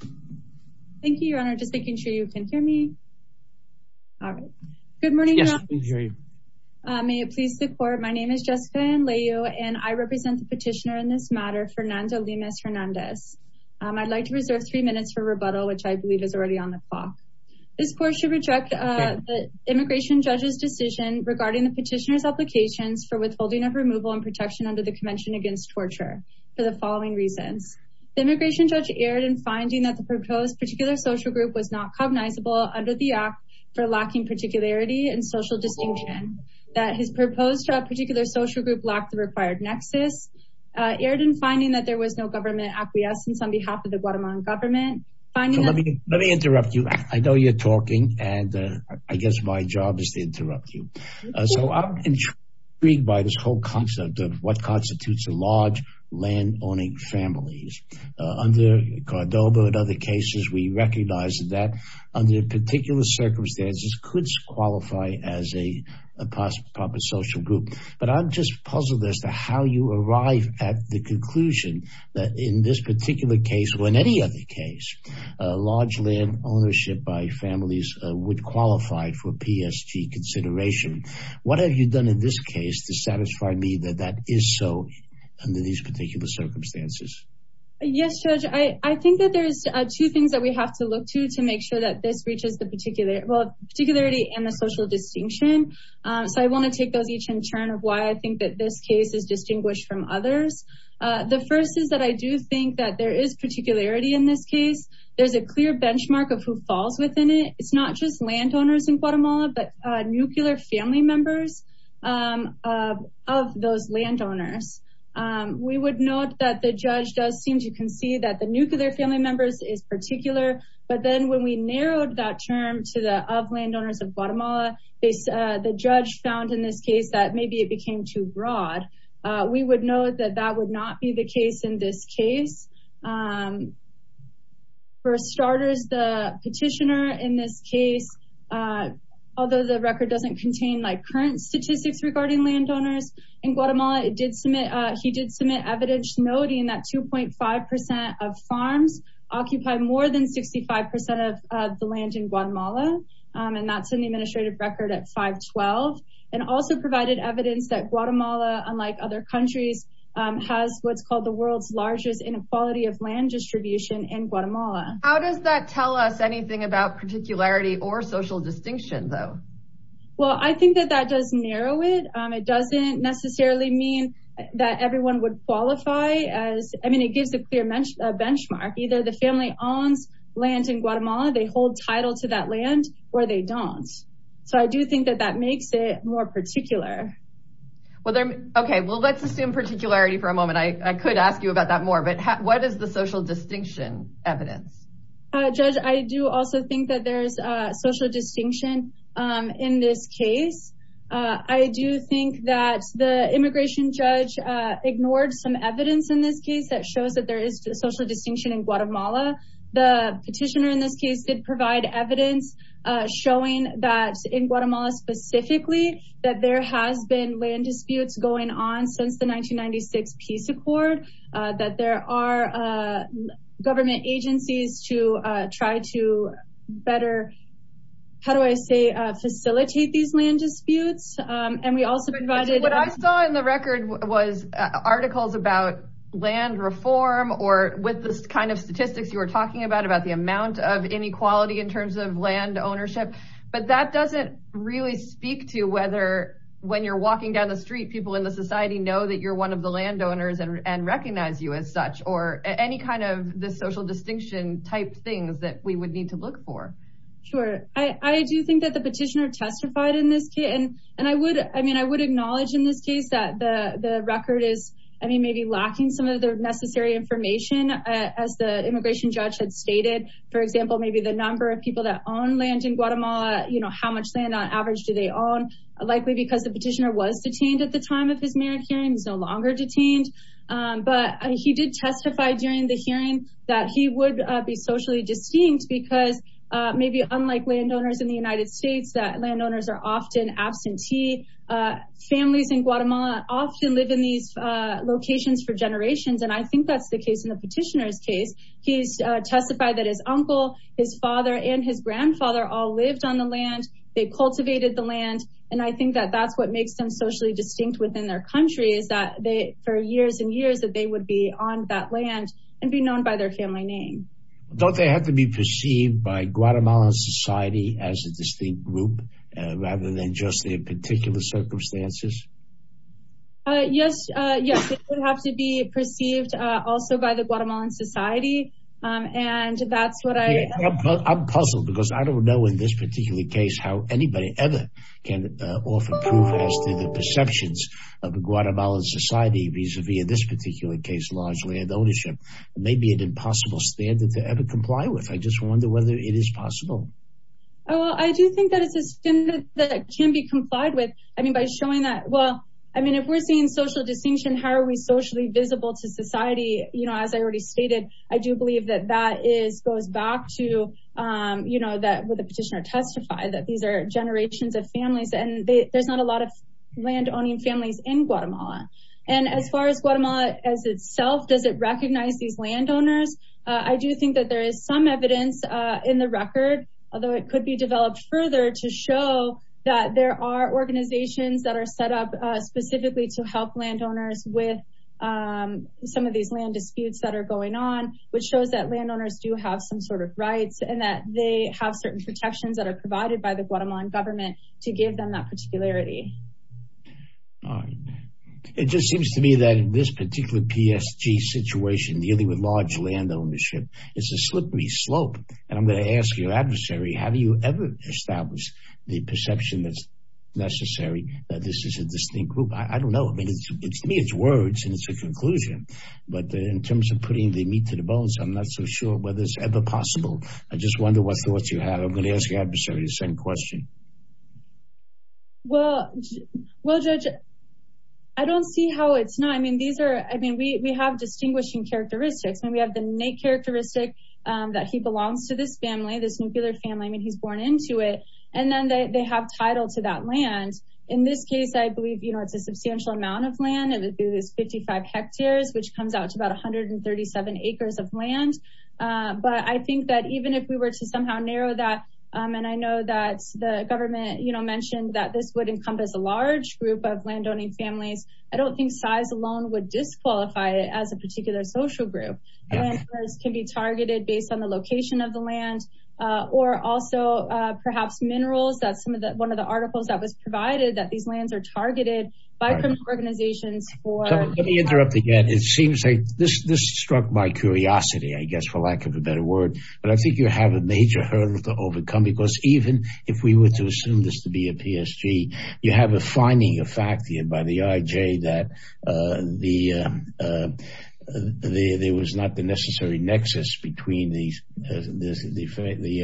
Thank you, your honor. Just making sure you can hear me. All right. Good morning. May it please the court. My name is Jessica and I represent the petitioner in this matter, Fernando Lemus-Hernandez. I'd like to reserve three minutes for rebuttal, which I believe is already on the clock. This court should reject the immigration judge's decision regarding the petitioner's applications for withholding of removal and protection under the Convention Against Torture for the following reasons. The immigration judge erred in finding that the proposed particular social group was not cognizable under the Act for Lacking Particularity and Social Distinction, that his proposed particular social group lacked the required nexus, erred in finding that there was no government acquiescence on behalf of the Guatemalan government. Let me interrupt you. I know you're talking and I guess my job is to interrupt you. So I'm intrigued by this whole concept of what constitutes a large land-owning families. Under Cordova and other cases, we recognize that under particular circumstances could qualify as a possible social group. But I'm just puzzled as to how you arrive at the conclusion that in this particular case or in any other case, large land ownership by families would qualify for PSG consideration. What have you done in this case to satisfy me that that is so under these particular circumstances? Yes, Judge, I think that there's two things that we have to look to to make sure that this reaches the particular, well, particularity and the social distinction. So I want to take those each in turn of why I think that this case is distinguished from others. The first is that I do think that there is particularity in this case. There's a clear family members of those landowners. We would note that the judge does seem to concede that the nuclear family members is particular. But then when we narrowed that term to the of landowners of Guatemala, the judge found in this case that maybe it became too broad. We would know that that would not be the case in this case. For starters, the petitioner in this case, although the record doesn't contain like current statistics regarding landowners in Guatemala, he did submit evidence noting that 2.5% of farms occupy more than 65% of the land in Guatemala. And that's in the administrative record at 512. And also provided evidence that Guatemala, unlike other countries, has what's called the world's largest inequality of land distribution in Guatemala. How does that tell us anything about particularity or social distinction though? Well, I think that that does narrow it. It doesn't necessarily mean that everyone would qualify as, I mean, it gives a clear benchmark. Either the family owns land in Guatemala, they hold title to that land or they don't. So I do think that that makes it more particular. Okay, well, let's assume particularity for a moment. I could ask you about that more, but what is the social distinction evidence? Judge, I do also think that there's a social distinction in this case. I do think that the immigration judge ignored some evidence in this case that shows that there is social distinction in Guatemala. The petitioner in this case did provide evidence showing that in Guatemala specifically, that there has been land disputes. That there are government agencies to try to better, how do I say, facilitate these land disputes. And we also provided- What I saw in the record was articles about land reform or with the kind of statistics you were talking about, about the amount of inequality in terms of land ownership. But that doesn't really speak to whether when you're walking down the street, people in the and recognize you as such, or any kind of the social distinction type things that we would need to look for. Sure, I do think that the petitioner testified in this case. And I would, I mean, I would acknowledge in this case that the record is, I mean, maybe lacking some of the necessary information as the immigration judge had stated. For example, maybe the number of people that own land in Guatemala, you know, how much land on average do they own? Likely because the But he did testify during the hearing that he would be socially distinct because maybe unlike landowners in the United States, that landowners are often absentee. Families in Guatemala often live in these locations for generations. And I think that's the case in the petitioner's case. He's testified that his uncle, his father, and his grandfather all lived on the land. They cultivated the land. And I think that that's what makes them socially distinct within their country is that they for years and years that they would be on that land and be known by their family name. Don't they have to be perceived by Guatemalan society as a distinct group rather than just their particular circumstances? Yes, yes, it would have to be perceived also by the Guatemalan society. And that's what I I'm puzzled because I don't know in this society vis-a-vis in this particular case, large land ownership may be an impossible standard to ever comply with. I just wonder whether it is possible. Oh, I do think that it's a standard that can be complied with. I mean, by showing that. Well, I mean, if we're seeing social distinction, how are we socially visible to society? You know, as I already stated, I do believe that that is goes back to, you know, that the petitioner testified that these are landowning families in Guatemala. And as far as Guatemala as itself, does it recognize these landowners? I do think that there is some evidence in the record, although it could be developed further to show that there are organizations that are set up specifically to help landowners with some of these land disputes that are going on, which shows that landowners do have some sort of rights and that they have certain protections that are provided by the Guatemalan government to give them that particularity. It just seems to me that this particular PSG situation dealing with large land ownership is a slippery slope. And I'm going to ask your adversary, have you ever established the perception that's necessary that this is a distinct group? I don't know. I mean, it's me, it's words and it's a conclusion. But in terms of putting the meat to the bones, I'm not so sure whether it's ever possible. I just wonder what thoughts you have. I'm going to ask your adversary the same question. Well, Judge, I don't see how it's not. I mean, these are, I mean, we have distinguishing characteristics and we have the innate characteristic that he belongs to this family, this nuclear family. I mean, he's born into it. And then they have title to that land. In this case, I believe it's a substantial amount of land. It would be this 55 hectares, which comes out to about 137 acres of land. But I think that even if we were to somehow narrow that, and I know that the government mentioned that this would encompass a large group of landowning families. I don't think size alone would disqualify it as a particular social group. Land can be targeted based on the location of the land or also perhaps minerals. That's some of the, one of the articles that was provided, that these lands are targeted by criminal organizations. Let me interrupt again. It has a major hurdle to overcome because even if we were to assume this to be a PSG, you have a finding of fact here by the IJ that there was not the necessary nexus between the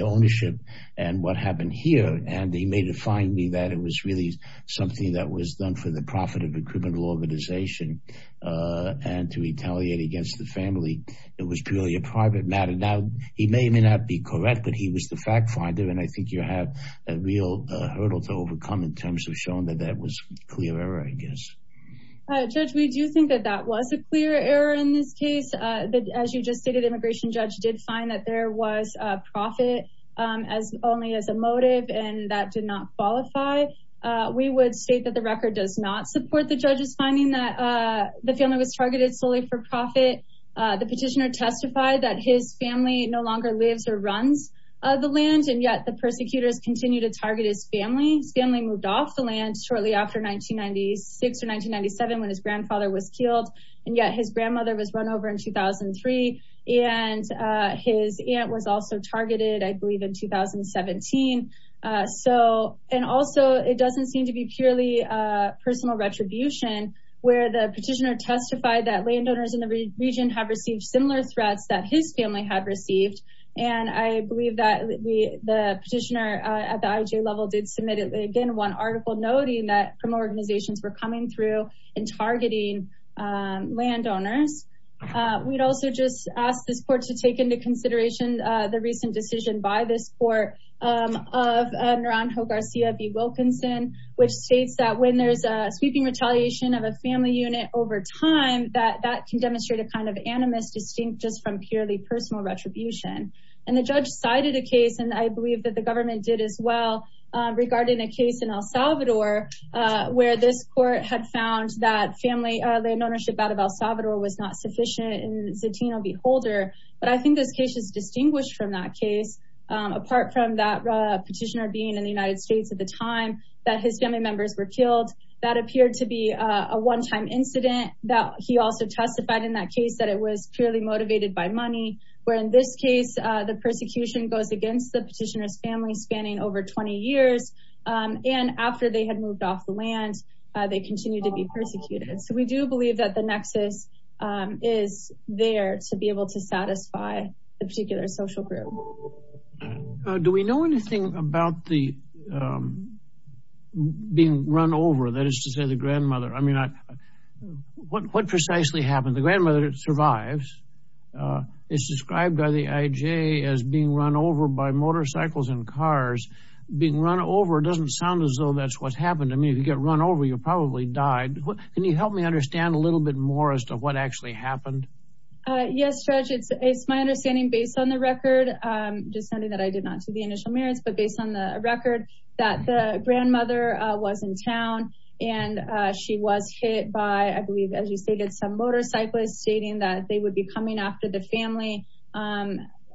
ownership and what happened here. And he made a finding that it was really something that was done for the profit of a criminal organization and to retaliate against the family. It was purely a fact finder. And I think you have a real hurdle to overcome in terms of showing that that was clear error, I guess. Judge, we do think that that was a clear error in this case, that as you just stated, immigration judge did find that there was a profit as only as a motive and that did not qualify. We would state that the record does not support the judge's finding that the family was targeted solely for profit. The petitioner testified that his family no longer runs the land and yet the persecutors continue to target his family. His family moved off the land shortly after 1996 or 1997 when his grandfather was killed. And yet his grandmother was run over in 2003 and his aunt was also targeted, I believe in 2017. And also it doesn't seem to be purely personal retribution where the petitioner testified that landowners in the region have received similar threats that his family had received. And I believe that the petitioner at the IJ level did submit again, one article noting that criminal organizations were coming through and targeting landowners. We'd also just ask this court to take into consideration the recent decision by this court of Naranjo Garcia v. Wilkinson, which states that when there's a sweeping retaliation of a family unit over time, that that can demonstrate a kind of animus distinct just from purely personal retribution. And the judge cited a case, and I believe that the government did as well, regarding a case in El Salvador where this court had found that family land ownership out of El Salvador was not sufficient in Zatino v. Holder. But I think this case is distinguished from that case apart from that petitioner being in the United States at the time that his family members were killed. That appeared to be a one-time incident that he also testified in that case that it was purely motivated by money, where in this case the persecution goes against the petitioner's family spanning over 20 years. And after they had moved off the land, they continued to be persecuted. So we do believe that the nexus is there to be able to satisfy the particular social group. Do we know anything about the being run over, that is to say the grandmother? I mean, what precisely happened? The grandmother survives. It's described by the IJ as being run over by motorcycles and cars. Being run over doesn't sound as though that's what happened. I mean, if you get run over, you probably died. Can you help me understand a little bit more as to what actually happened? Yes, Judge, it's my understanding based on the record, just something that I did not see the initial merits, but based on the record that the grandmother was in town and she was hit by, I believe, as you stated, some motorcyclists stating that they would be coming after the family,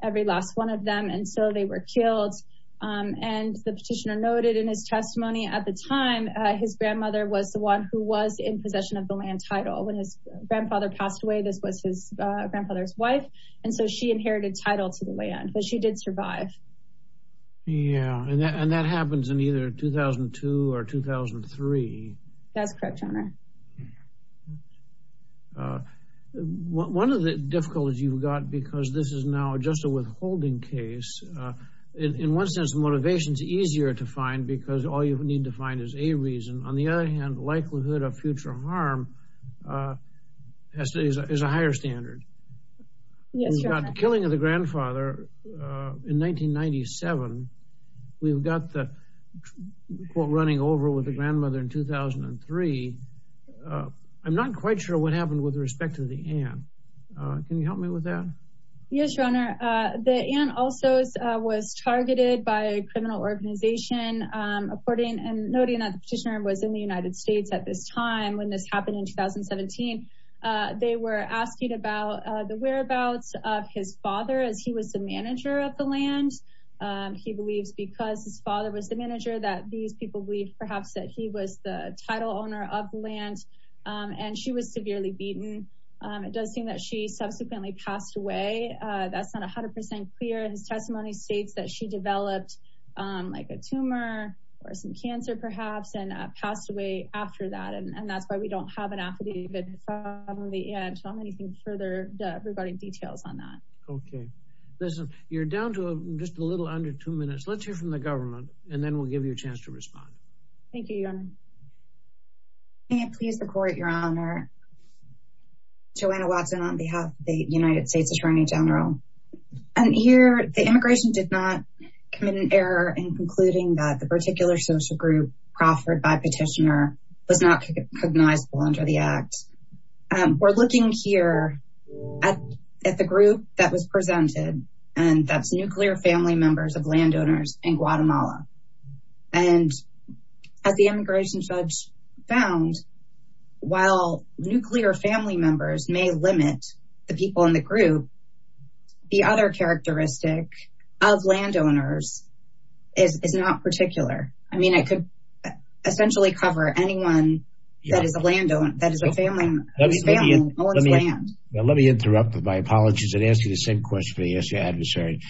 every last one of them. And so they were killed. And the petitioner noted in his testimony at the time, his grandmother was the one who was in possession of the land title. When his grandfather passed away, this was his grandfather's and so she inherited title to the land, but she did survive. Yeah, and that happens in either 2002 or 2003. That's correct, Your Honor. One of the difficulties you've got, because this is now just a withholding case, in one sense, motivation is easier to find because all you need to find is a reason. On the other hand, likelihood of future harm is a higher standard. Yes, Your Honor. We've got the killing of the grandfather in 1997. We've got the quote running over with the grandmother in 2003. I'm not quite sure what happened with respect to the aunt. Can you help me with that? Yes, Your Honor. The aunt also was targeted by a criminal organization according and noting that the petitioner was in the United States at this time when this happened in 2017. They were asking about the whereabouts of his father as he was the manager of the land. He believes because his father was the manager that these people believe perhaps that he was the title owner of the land and she was severely beaten. It does seem that she subsequently passed away. That's not 100% clear. His testimony states that she developed a tumor or some cancer perhaps and passed away after that. That's why we don't have an affidavit from the aunt. I don't have anything further regarding details on that. Okay. Listen, you're down to just a little under two minutes. Let's hear from the government and then we'll give you a chance to respond. Thank you, Your Honor. May it please the court, Your Honor. Joanna Watson on behalf of the United States Attorney General. Here, the immigration did not commit an error in concluding that the particular social group proffered by petitioner was not recognizable under the act. We're looking here at the group that was presented and that's nuclear family members of landowners in Guatemala. As the immigration judge found, while nuclear family members may limit the people in the group, the other characteristic of landowners is not particular. I mean, it could essentially cover anyone that is a landowner, that is a family. Let me interrupt with my apologies and ask you the same question for the essay adversary.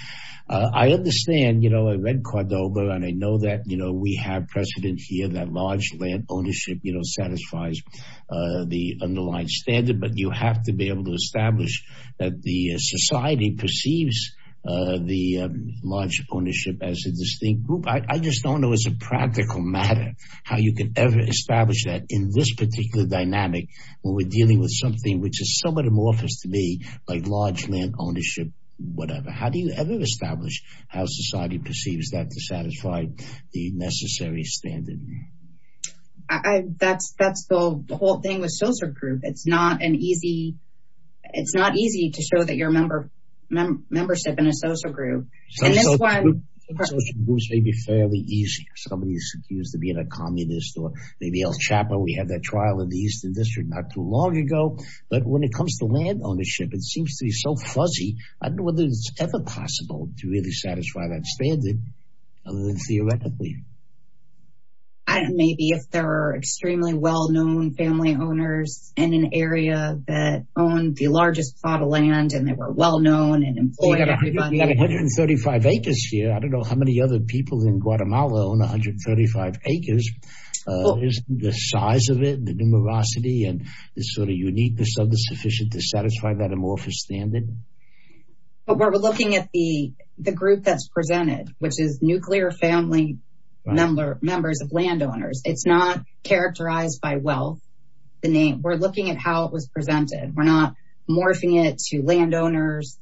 I understand, you know, I read Cordoba and I know that, you know, we have precedent here that large land ownership, you know, satisfies the underlying standard, but you have to be able to establish that the society perceives the large ownership as a distinct group. I just don't know as a practical matter, how you can ever establish that in this particular dynamic when we're dealing with something which is somewhat amorphous to me, like large land ownership, whatever. How do you ever establish how society perceives that to satisfy the necessary standard? That's the whole thing with social group. It's not an easy, it's not easy to show that your membership in a social group. Social groups may be fairly easy. Somebody is accused of being a communist or maybe El Chapo. We had that trial in the Eastern District not too long ago, but when it comes to land ownership, it seems to be so fuzzy. I don't know whether it's ever possible to really satisfy that standard, other than theoretically. I don't know, maybe if there are extremely well-known family owners in an area that owned the largest plot of land and they were well-known and employed. You have 135 acres here. I don't know how many other people in Guatemala own 135 acres. Isn't the size of it, the numerosity and the sort of uniqueness of the sufficient to satisfy that amorphous standard? We're looking at the group that's presented, which is nuclear family members of landowners. It's not characterized by wealth. We're looking at how it was presented. We're not morphing it to landowners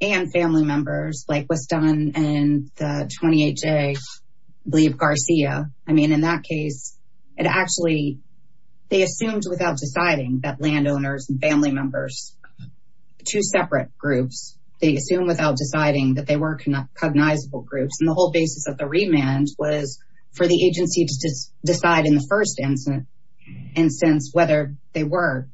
and family members like was done in the 28-J, I believe Garcia. In that case, they assumed without deciding that landowners and family members, two separate groups, they assumed without deciding that they were cognizable groups. The whole basis of the remand was for the agency to decide in the first instance whether they were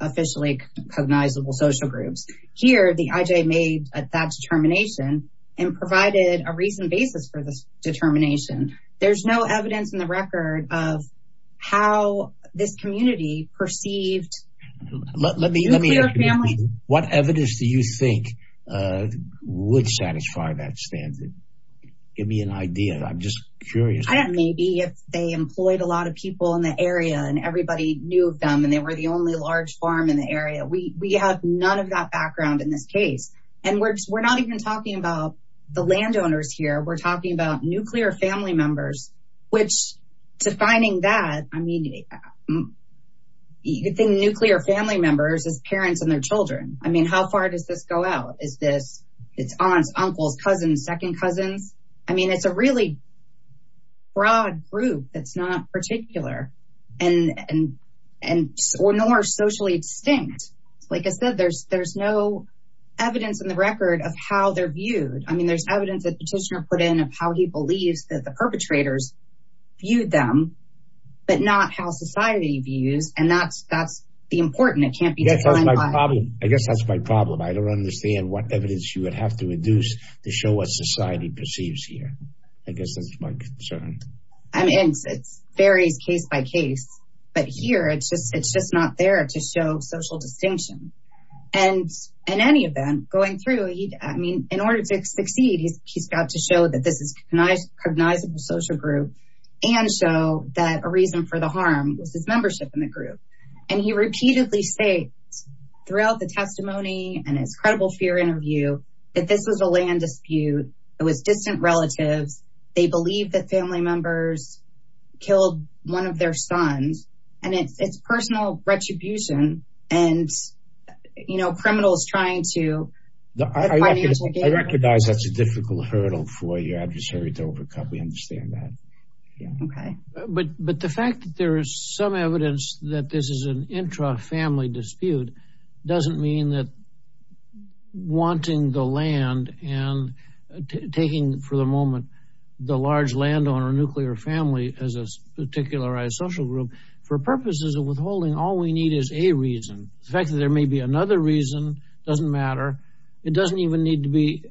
officially cognizable social groups. Here, the IJ made that determination and provided a reason basis for this determination. There's no evidence in the record of how this community perceived nuclear family. What evidence do you think would satisfy that standard? Give me an idea. I'm just curious. Maybe if they employed a lot of people in the area and everybody knew of them and they were the only large farm in the area. We have none of that background in this case. We're not even talking about the landowners here. We're talking about nuclear family members as parents and their children. How far does this go out? Is this it's aunts, uncles, cousins, second cousins? It's a really broad group that's not particular or nor socially extinct. Like I said, there's no evidence in the record of how they're viewed. There's evidence that petitioner put in of how he believes that the perpetrators viewed them, but not how society views. That's the important. I guess that's my problem. I don't understand what evidence you would have to induce to show what society perceives here. I guess that's my concern. It varies case by case. Here, it's just not there to show social distinction. In any event, going through, in order to succeed, he's got to show that this cognizable social group and show that a reason for the harm was his membership in the group. And he repeatedly states throughout the testimony and his credible fear interview, that this was a land dispute. It was distant relatives. They believe that family members killed one of their sons. And it's personal retribution. And criminals trying to I recognize that's a difficult hurdle for your adversary to overcome. We understand that. But the fact that there is some evidence that this is an intra-family dispute, doesn't mean that wanting the land and taking for the moment, the large landowner nuclear family as a particularized social group, for purposes of withholding, all we need is a reason. The fact there may be another reason doesn't matter. It doesn't even need to be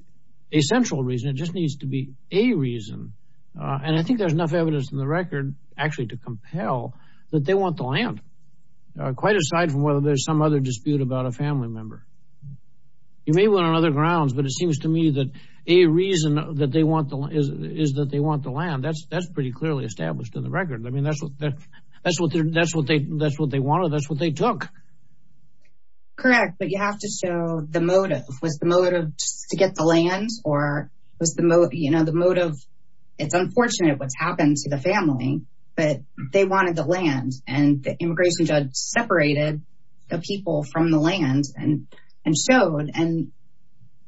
a central reason. It just needs to be a reason. And I think there's enough evidence in the record actually to compel that they want the land. Quite aside from whether there's some other dispute about a family member. You may want on other grounds, but it seems to me that a reason that they want the land is that they want the land. That's pretty clearly established in the record. I mean, that's what they wanted. That's what they took. Correct. But you have to show the motive. Was the motive to get the land or was the motive? It's unfortunate what's happened to the family, but they wanted the land. And the immigration judge separated the people from the land and showed. And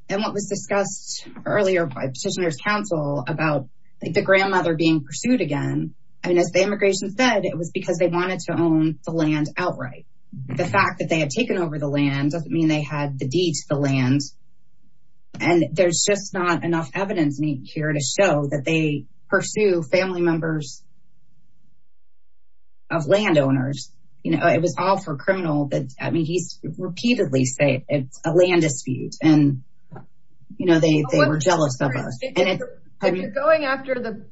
what was discussed earlier by petitioner's counsel about the grandmother being pursued again. And as the immigration said, it was because they wanted to own the land outright. The fact that they had taken over the land doesn't mean they had the deed to the land. And there's just not enough evidence here to show that they pursue family members of landowners. It was all for criminal. I mean, he's repeatedly say it's a land dispute and you know, they were jealous of us. If you're going after the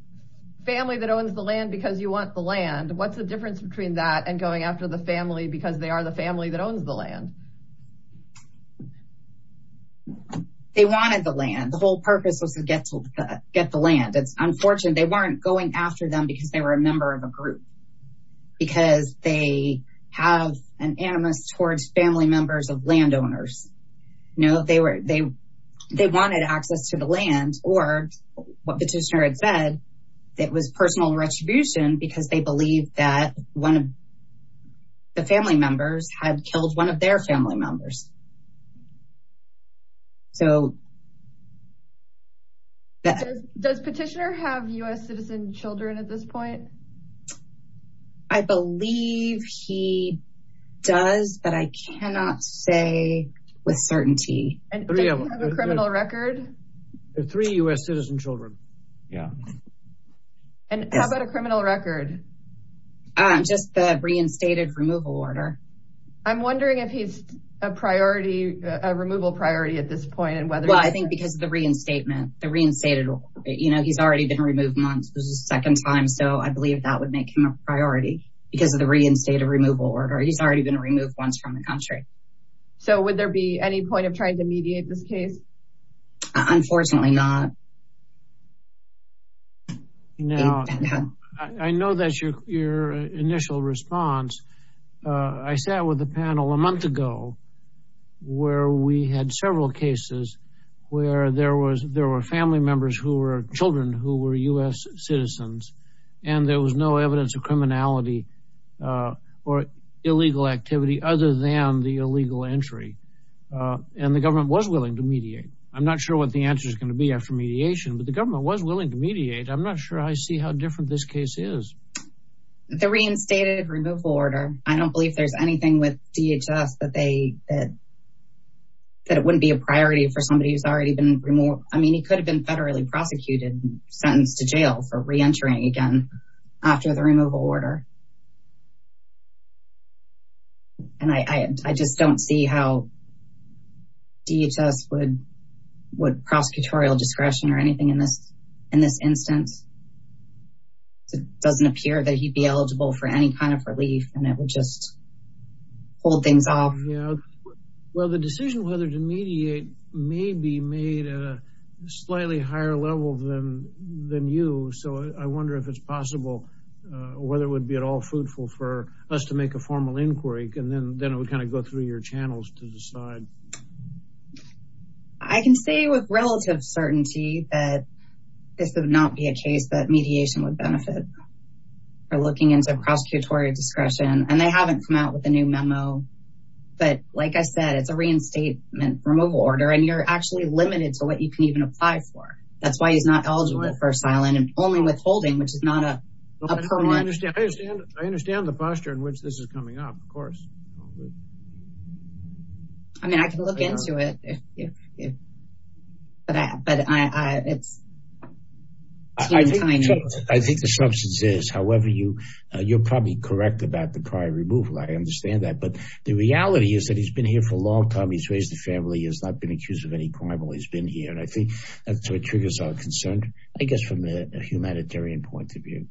family that owns the land because you want the land, what's the difference between that and going after the family because they are the family that owns the land? They wanted the land. The whole purpose was to get the land. It's unfortunate they weren't going after them because they were a member of a group, because they have an animus towards family members of landowners. No, they wanted access to the land or what petitioner had said, that was personal retribution because they believe that one of the family members had killed one of their family members. Does petitioner have US citizen children at this point? I believe he does, but I cannot say with certainty. And does he have a criminal record? The three US citizen children. Yeah. And how about a criminal record? Just the reinstated removal order. I'm wondering if he's a priority, a removal priority at this point and whether- Well, I think because of the reinstatement, the reinstated, you know, he's already been second time. So I believe that would make him a priority because of the reinstated removal order. He's already been removed once from the country. So would there be any point of trying to mediate this case? Unfortunately not. I know that's your initial response. I sat with the panel a month ago where we had several cases where there were family members who were children, who were US citizens, and there was no evidence of criminality or illegal activity other than the illegal entry. And the government was willing to mediate. I'm not sure what the answer is going to be after mediation, but the government was willing to mediate. I'm not sure I see how different this case is. The reinstated removal order. I don't believe there's anything with DHS that it wouldn't be a priority for somebody who's already been removed. I mean, he could have been federally prosecuted, sentenced to jail for reentering again after the removal order. And I just don't see how DHS would prosecutorial discretion or anything in this instance. It doesn't appear that he'd be eligible for any kind of relief, and it would just hold things off. Yeah. Well, the decision whether to mediate may be made at a slightly higher level than you. So I wonder if it's possible, whether it would be at all fruitful for us to make a formal inquiry, and then it would kind of go through your channels to decide. I can say with relative certainty that this would not be a case that mediation would benefit. We're looking into prosecutorial discretion, and they haven't come out with a new memo. But like I said, it's a reinstatement removal order, and you're actually limited to what you can even apply for. That's why he's not eligible for asylum and only withholding, which is not a per-one. I understand the posture in which this is coming up, of course. I mean, I can look into it. Yeah. But it's... I think the substance is. However, you're probably correct about the prior removal. I understand that. But the reality is that he's been here for a long time. He's raised a family. He has not been accused of any crime while he's been here. And I think that's what triggers our concern, I guess, from a humanitarian point of view.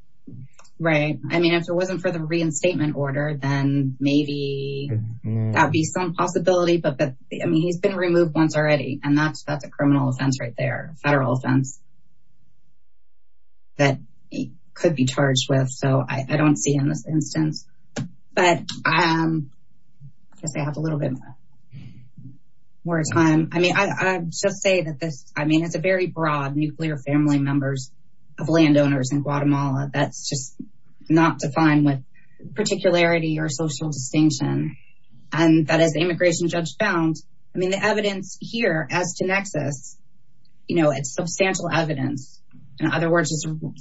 Right. I mean, if it wasn't for the reinstatement order, then maybe that would be some possibility. I mean, he's been removed once already, and that's a criminal offense right there, a federal offense that he could be charged with. So I don't see him in this instance. But I guess I have a little bit more time. I mean, I just say that this, I mean, it's a very broad nuclear family members of landowners in Guatemala. That's just not defined with particularity or social distinction. And that as immigration judge found, I mean, the evidence here as to Nexus, you know, it's substantial evidence. In other words,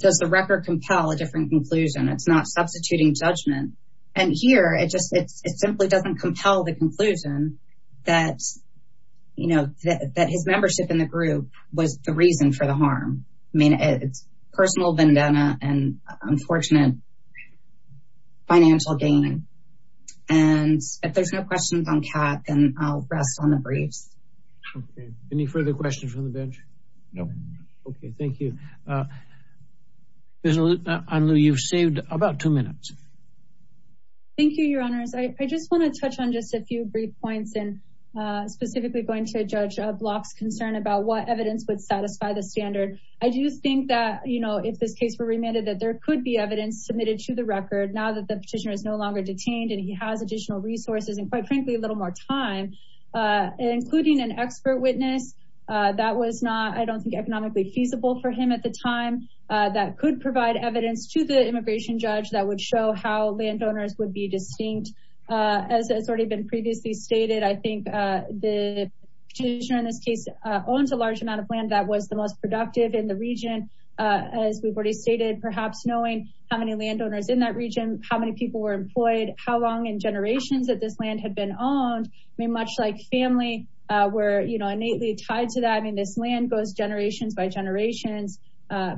does the record compel a different conclusion? It's not substituting judgment. And here, it just, it simply doesn't compel the conclusion that, you know, that his membership in the group was the reason for the harm. I mean, it's personal vendetta and unfortunate financial gain. And if there's no questions on Kat, then I'll rest on the briefs. Okay, any further questions from the bench? No. Okay, thank you. Anlu, you've saved about two minutes. Thank you, your honors. I just want to touch on just a few brief points and specifically going to judge Block's concern about what evidence would satisfy the standard. I do think that, you know, if this case were remanded, that there could be evidence submitted to the record now that the petitioner is no longer detained and he has additional resources and quite frankly, a little more time, including an expert witness that was not, I don't think economically feasible for him at the time that could provide evidence to the immigration judge that would show how landowners would be distinct. As it's already been previously stated, I think the petitioner in this case owns a large amount of land that was the most productive in the region. As we've already stated, perhaps knowing how many landowners in that region, how many people were employed, how long in generations that this land had been owned, I mean, much like family were innately tied to that. I mean, this land goes generations by generations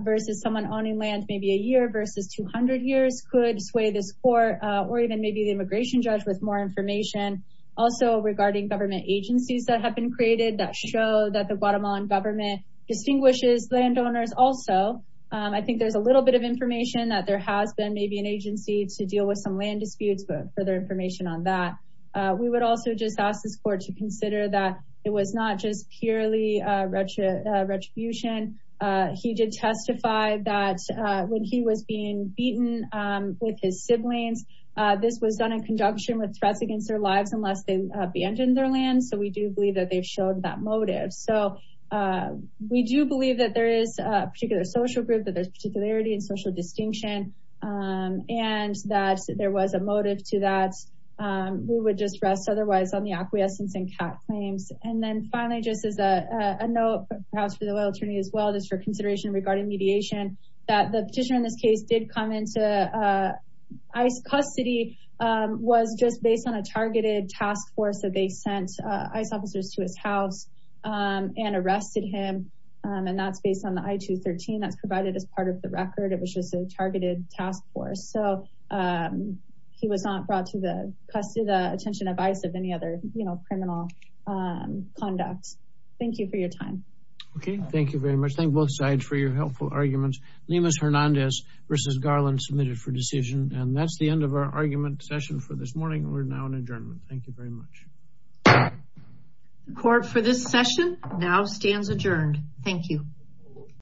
versus someone owning land, maybe a year versus 200 years could sway this court or even maybe the immigration judge with more information. Also regarding government agencies that have been created that show that the Guatemalan government distinguishes landowners also. I think there's a little bit of information that there has been maybe an agency to deal with some land disputes, but further information on that. We would also just ask this court to consider that it was not just purely retribution. He did testify that when he was being beaten with his siblings, this was done in conjunction with threats against their lives unless they abandoned their land. So we do believe that they've shown that motive. So we do believe that there is a particular social group, that there's particularity and social distinction and that there was a motive to that. We would just rest otherwise on the acquiescence and cat claims. And then finally, just as a note, perhaps for the loyal attorney as well, just for consideration regarding mediation, that the petitioner in this case did come into ICE custody, was just based on a targeted task force that they sent ICE officers to his house. And arrested him. And that's based on the I-213 that's provided as part of the record. It was just a targeted task force. So he was not brought to the attention of ICE of any other criminal conduct. Thank you for your time. Okay, thank you very much. Thank both sides for your helpful arguments. Lemus Hernandez versus Garland submitted for decision. And that's the end of our argument session for this morning. We're now in adjournment. Thank you very much. Court for this session now stands adjourned. Thank you.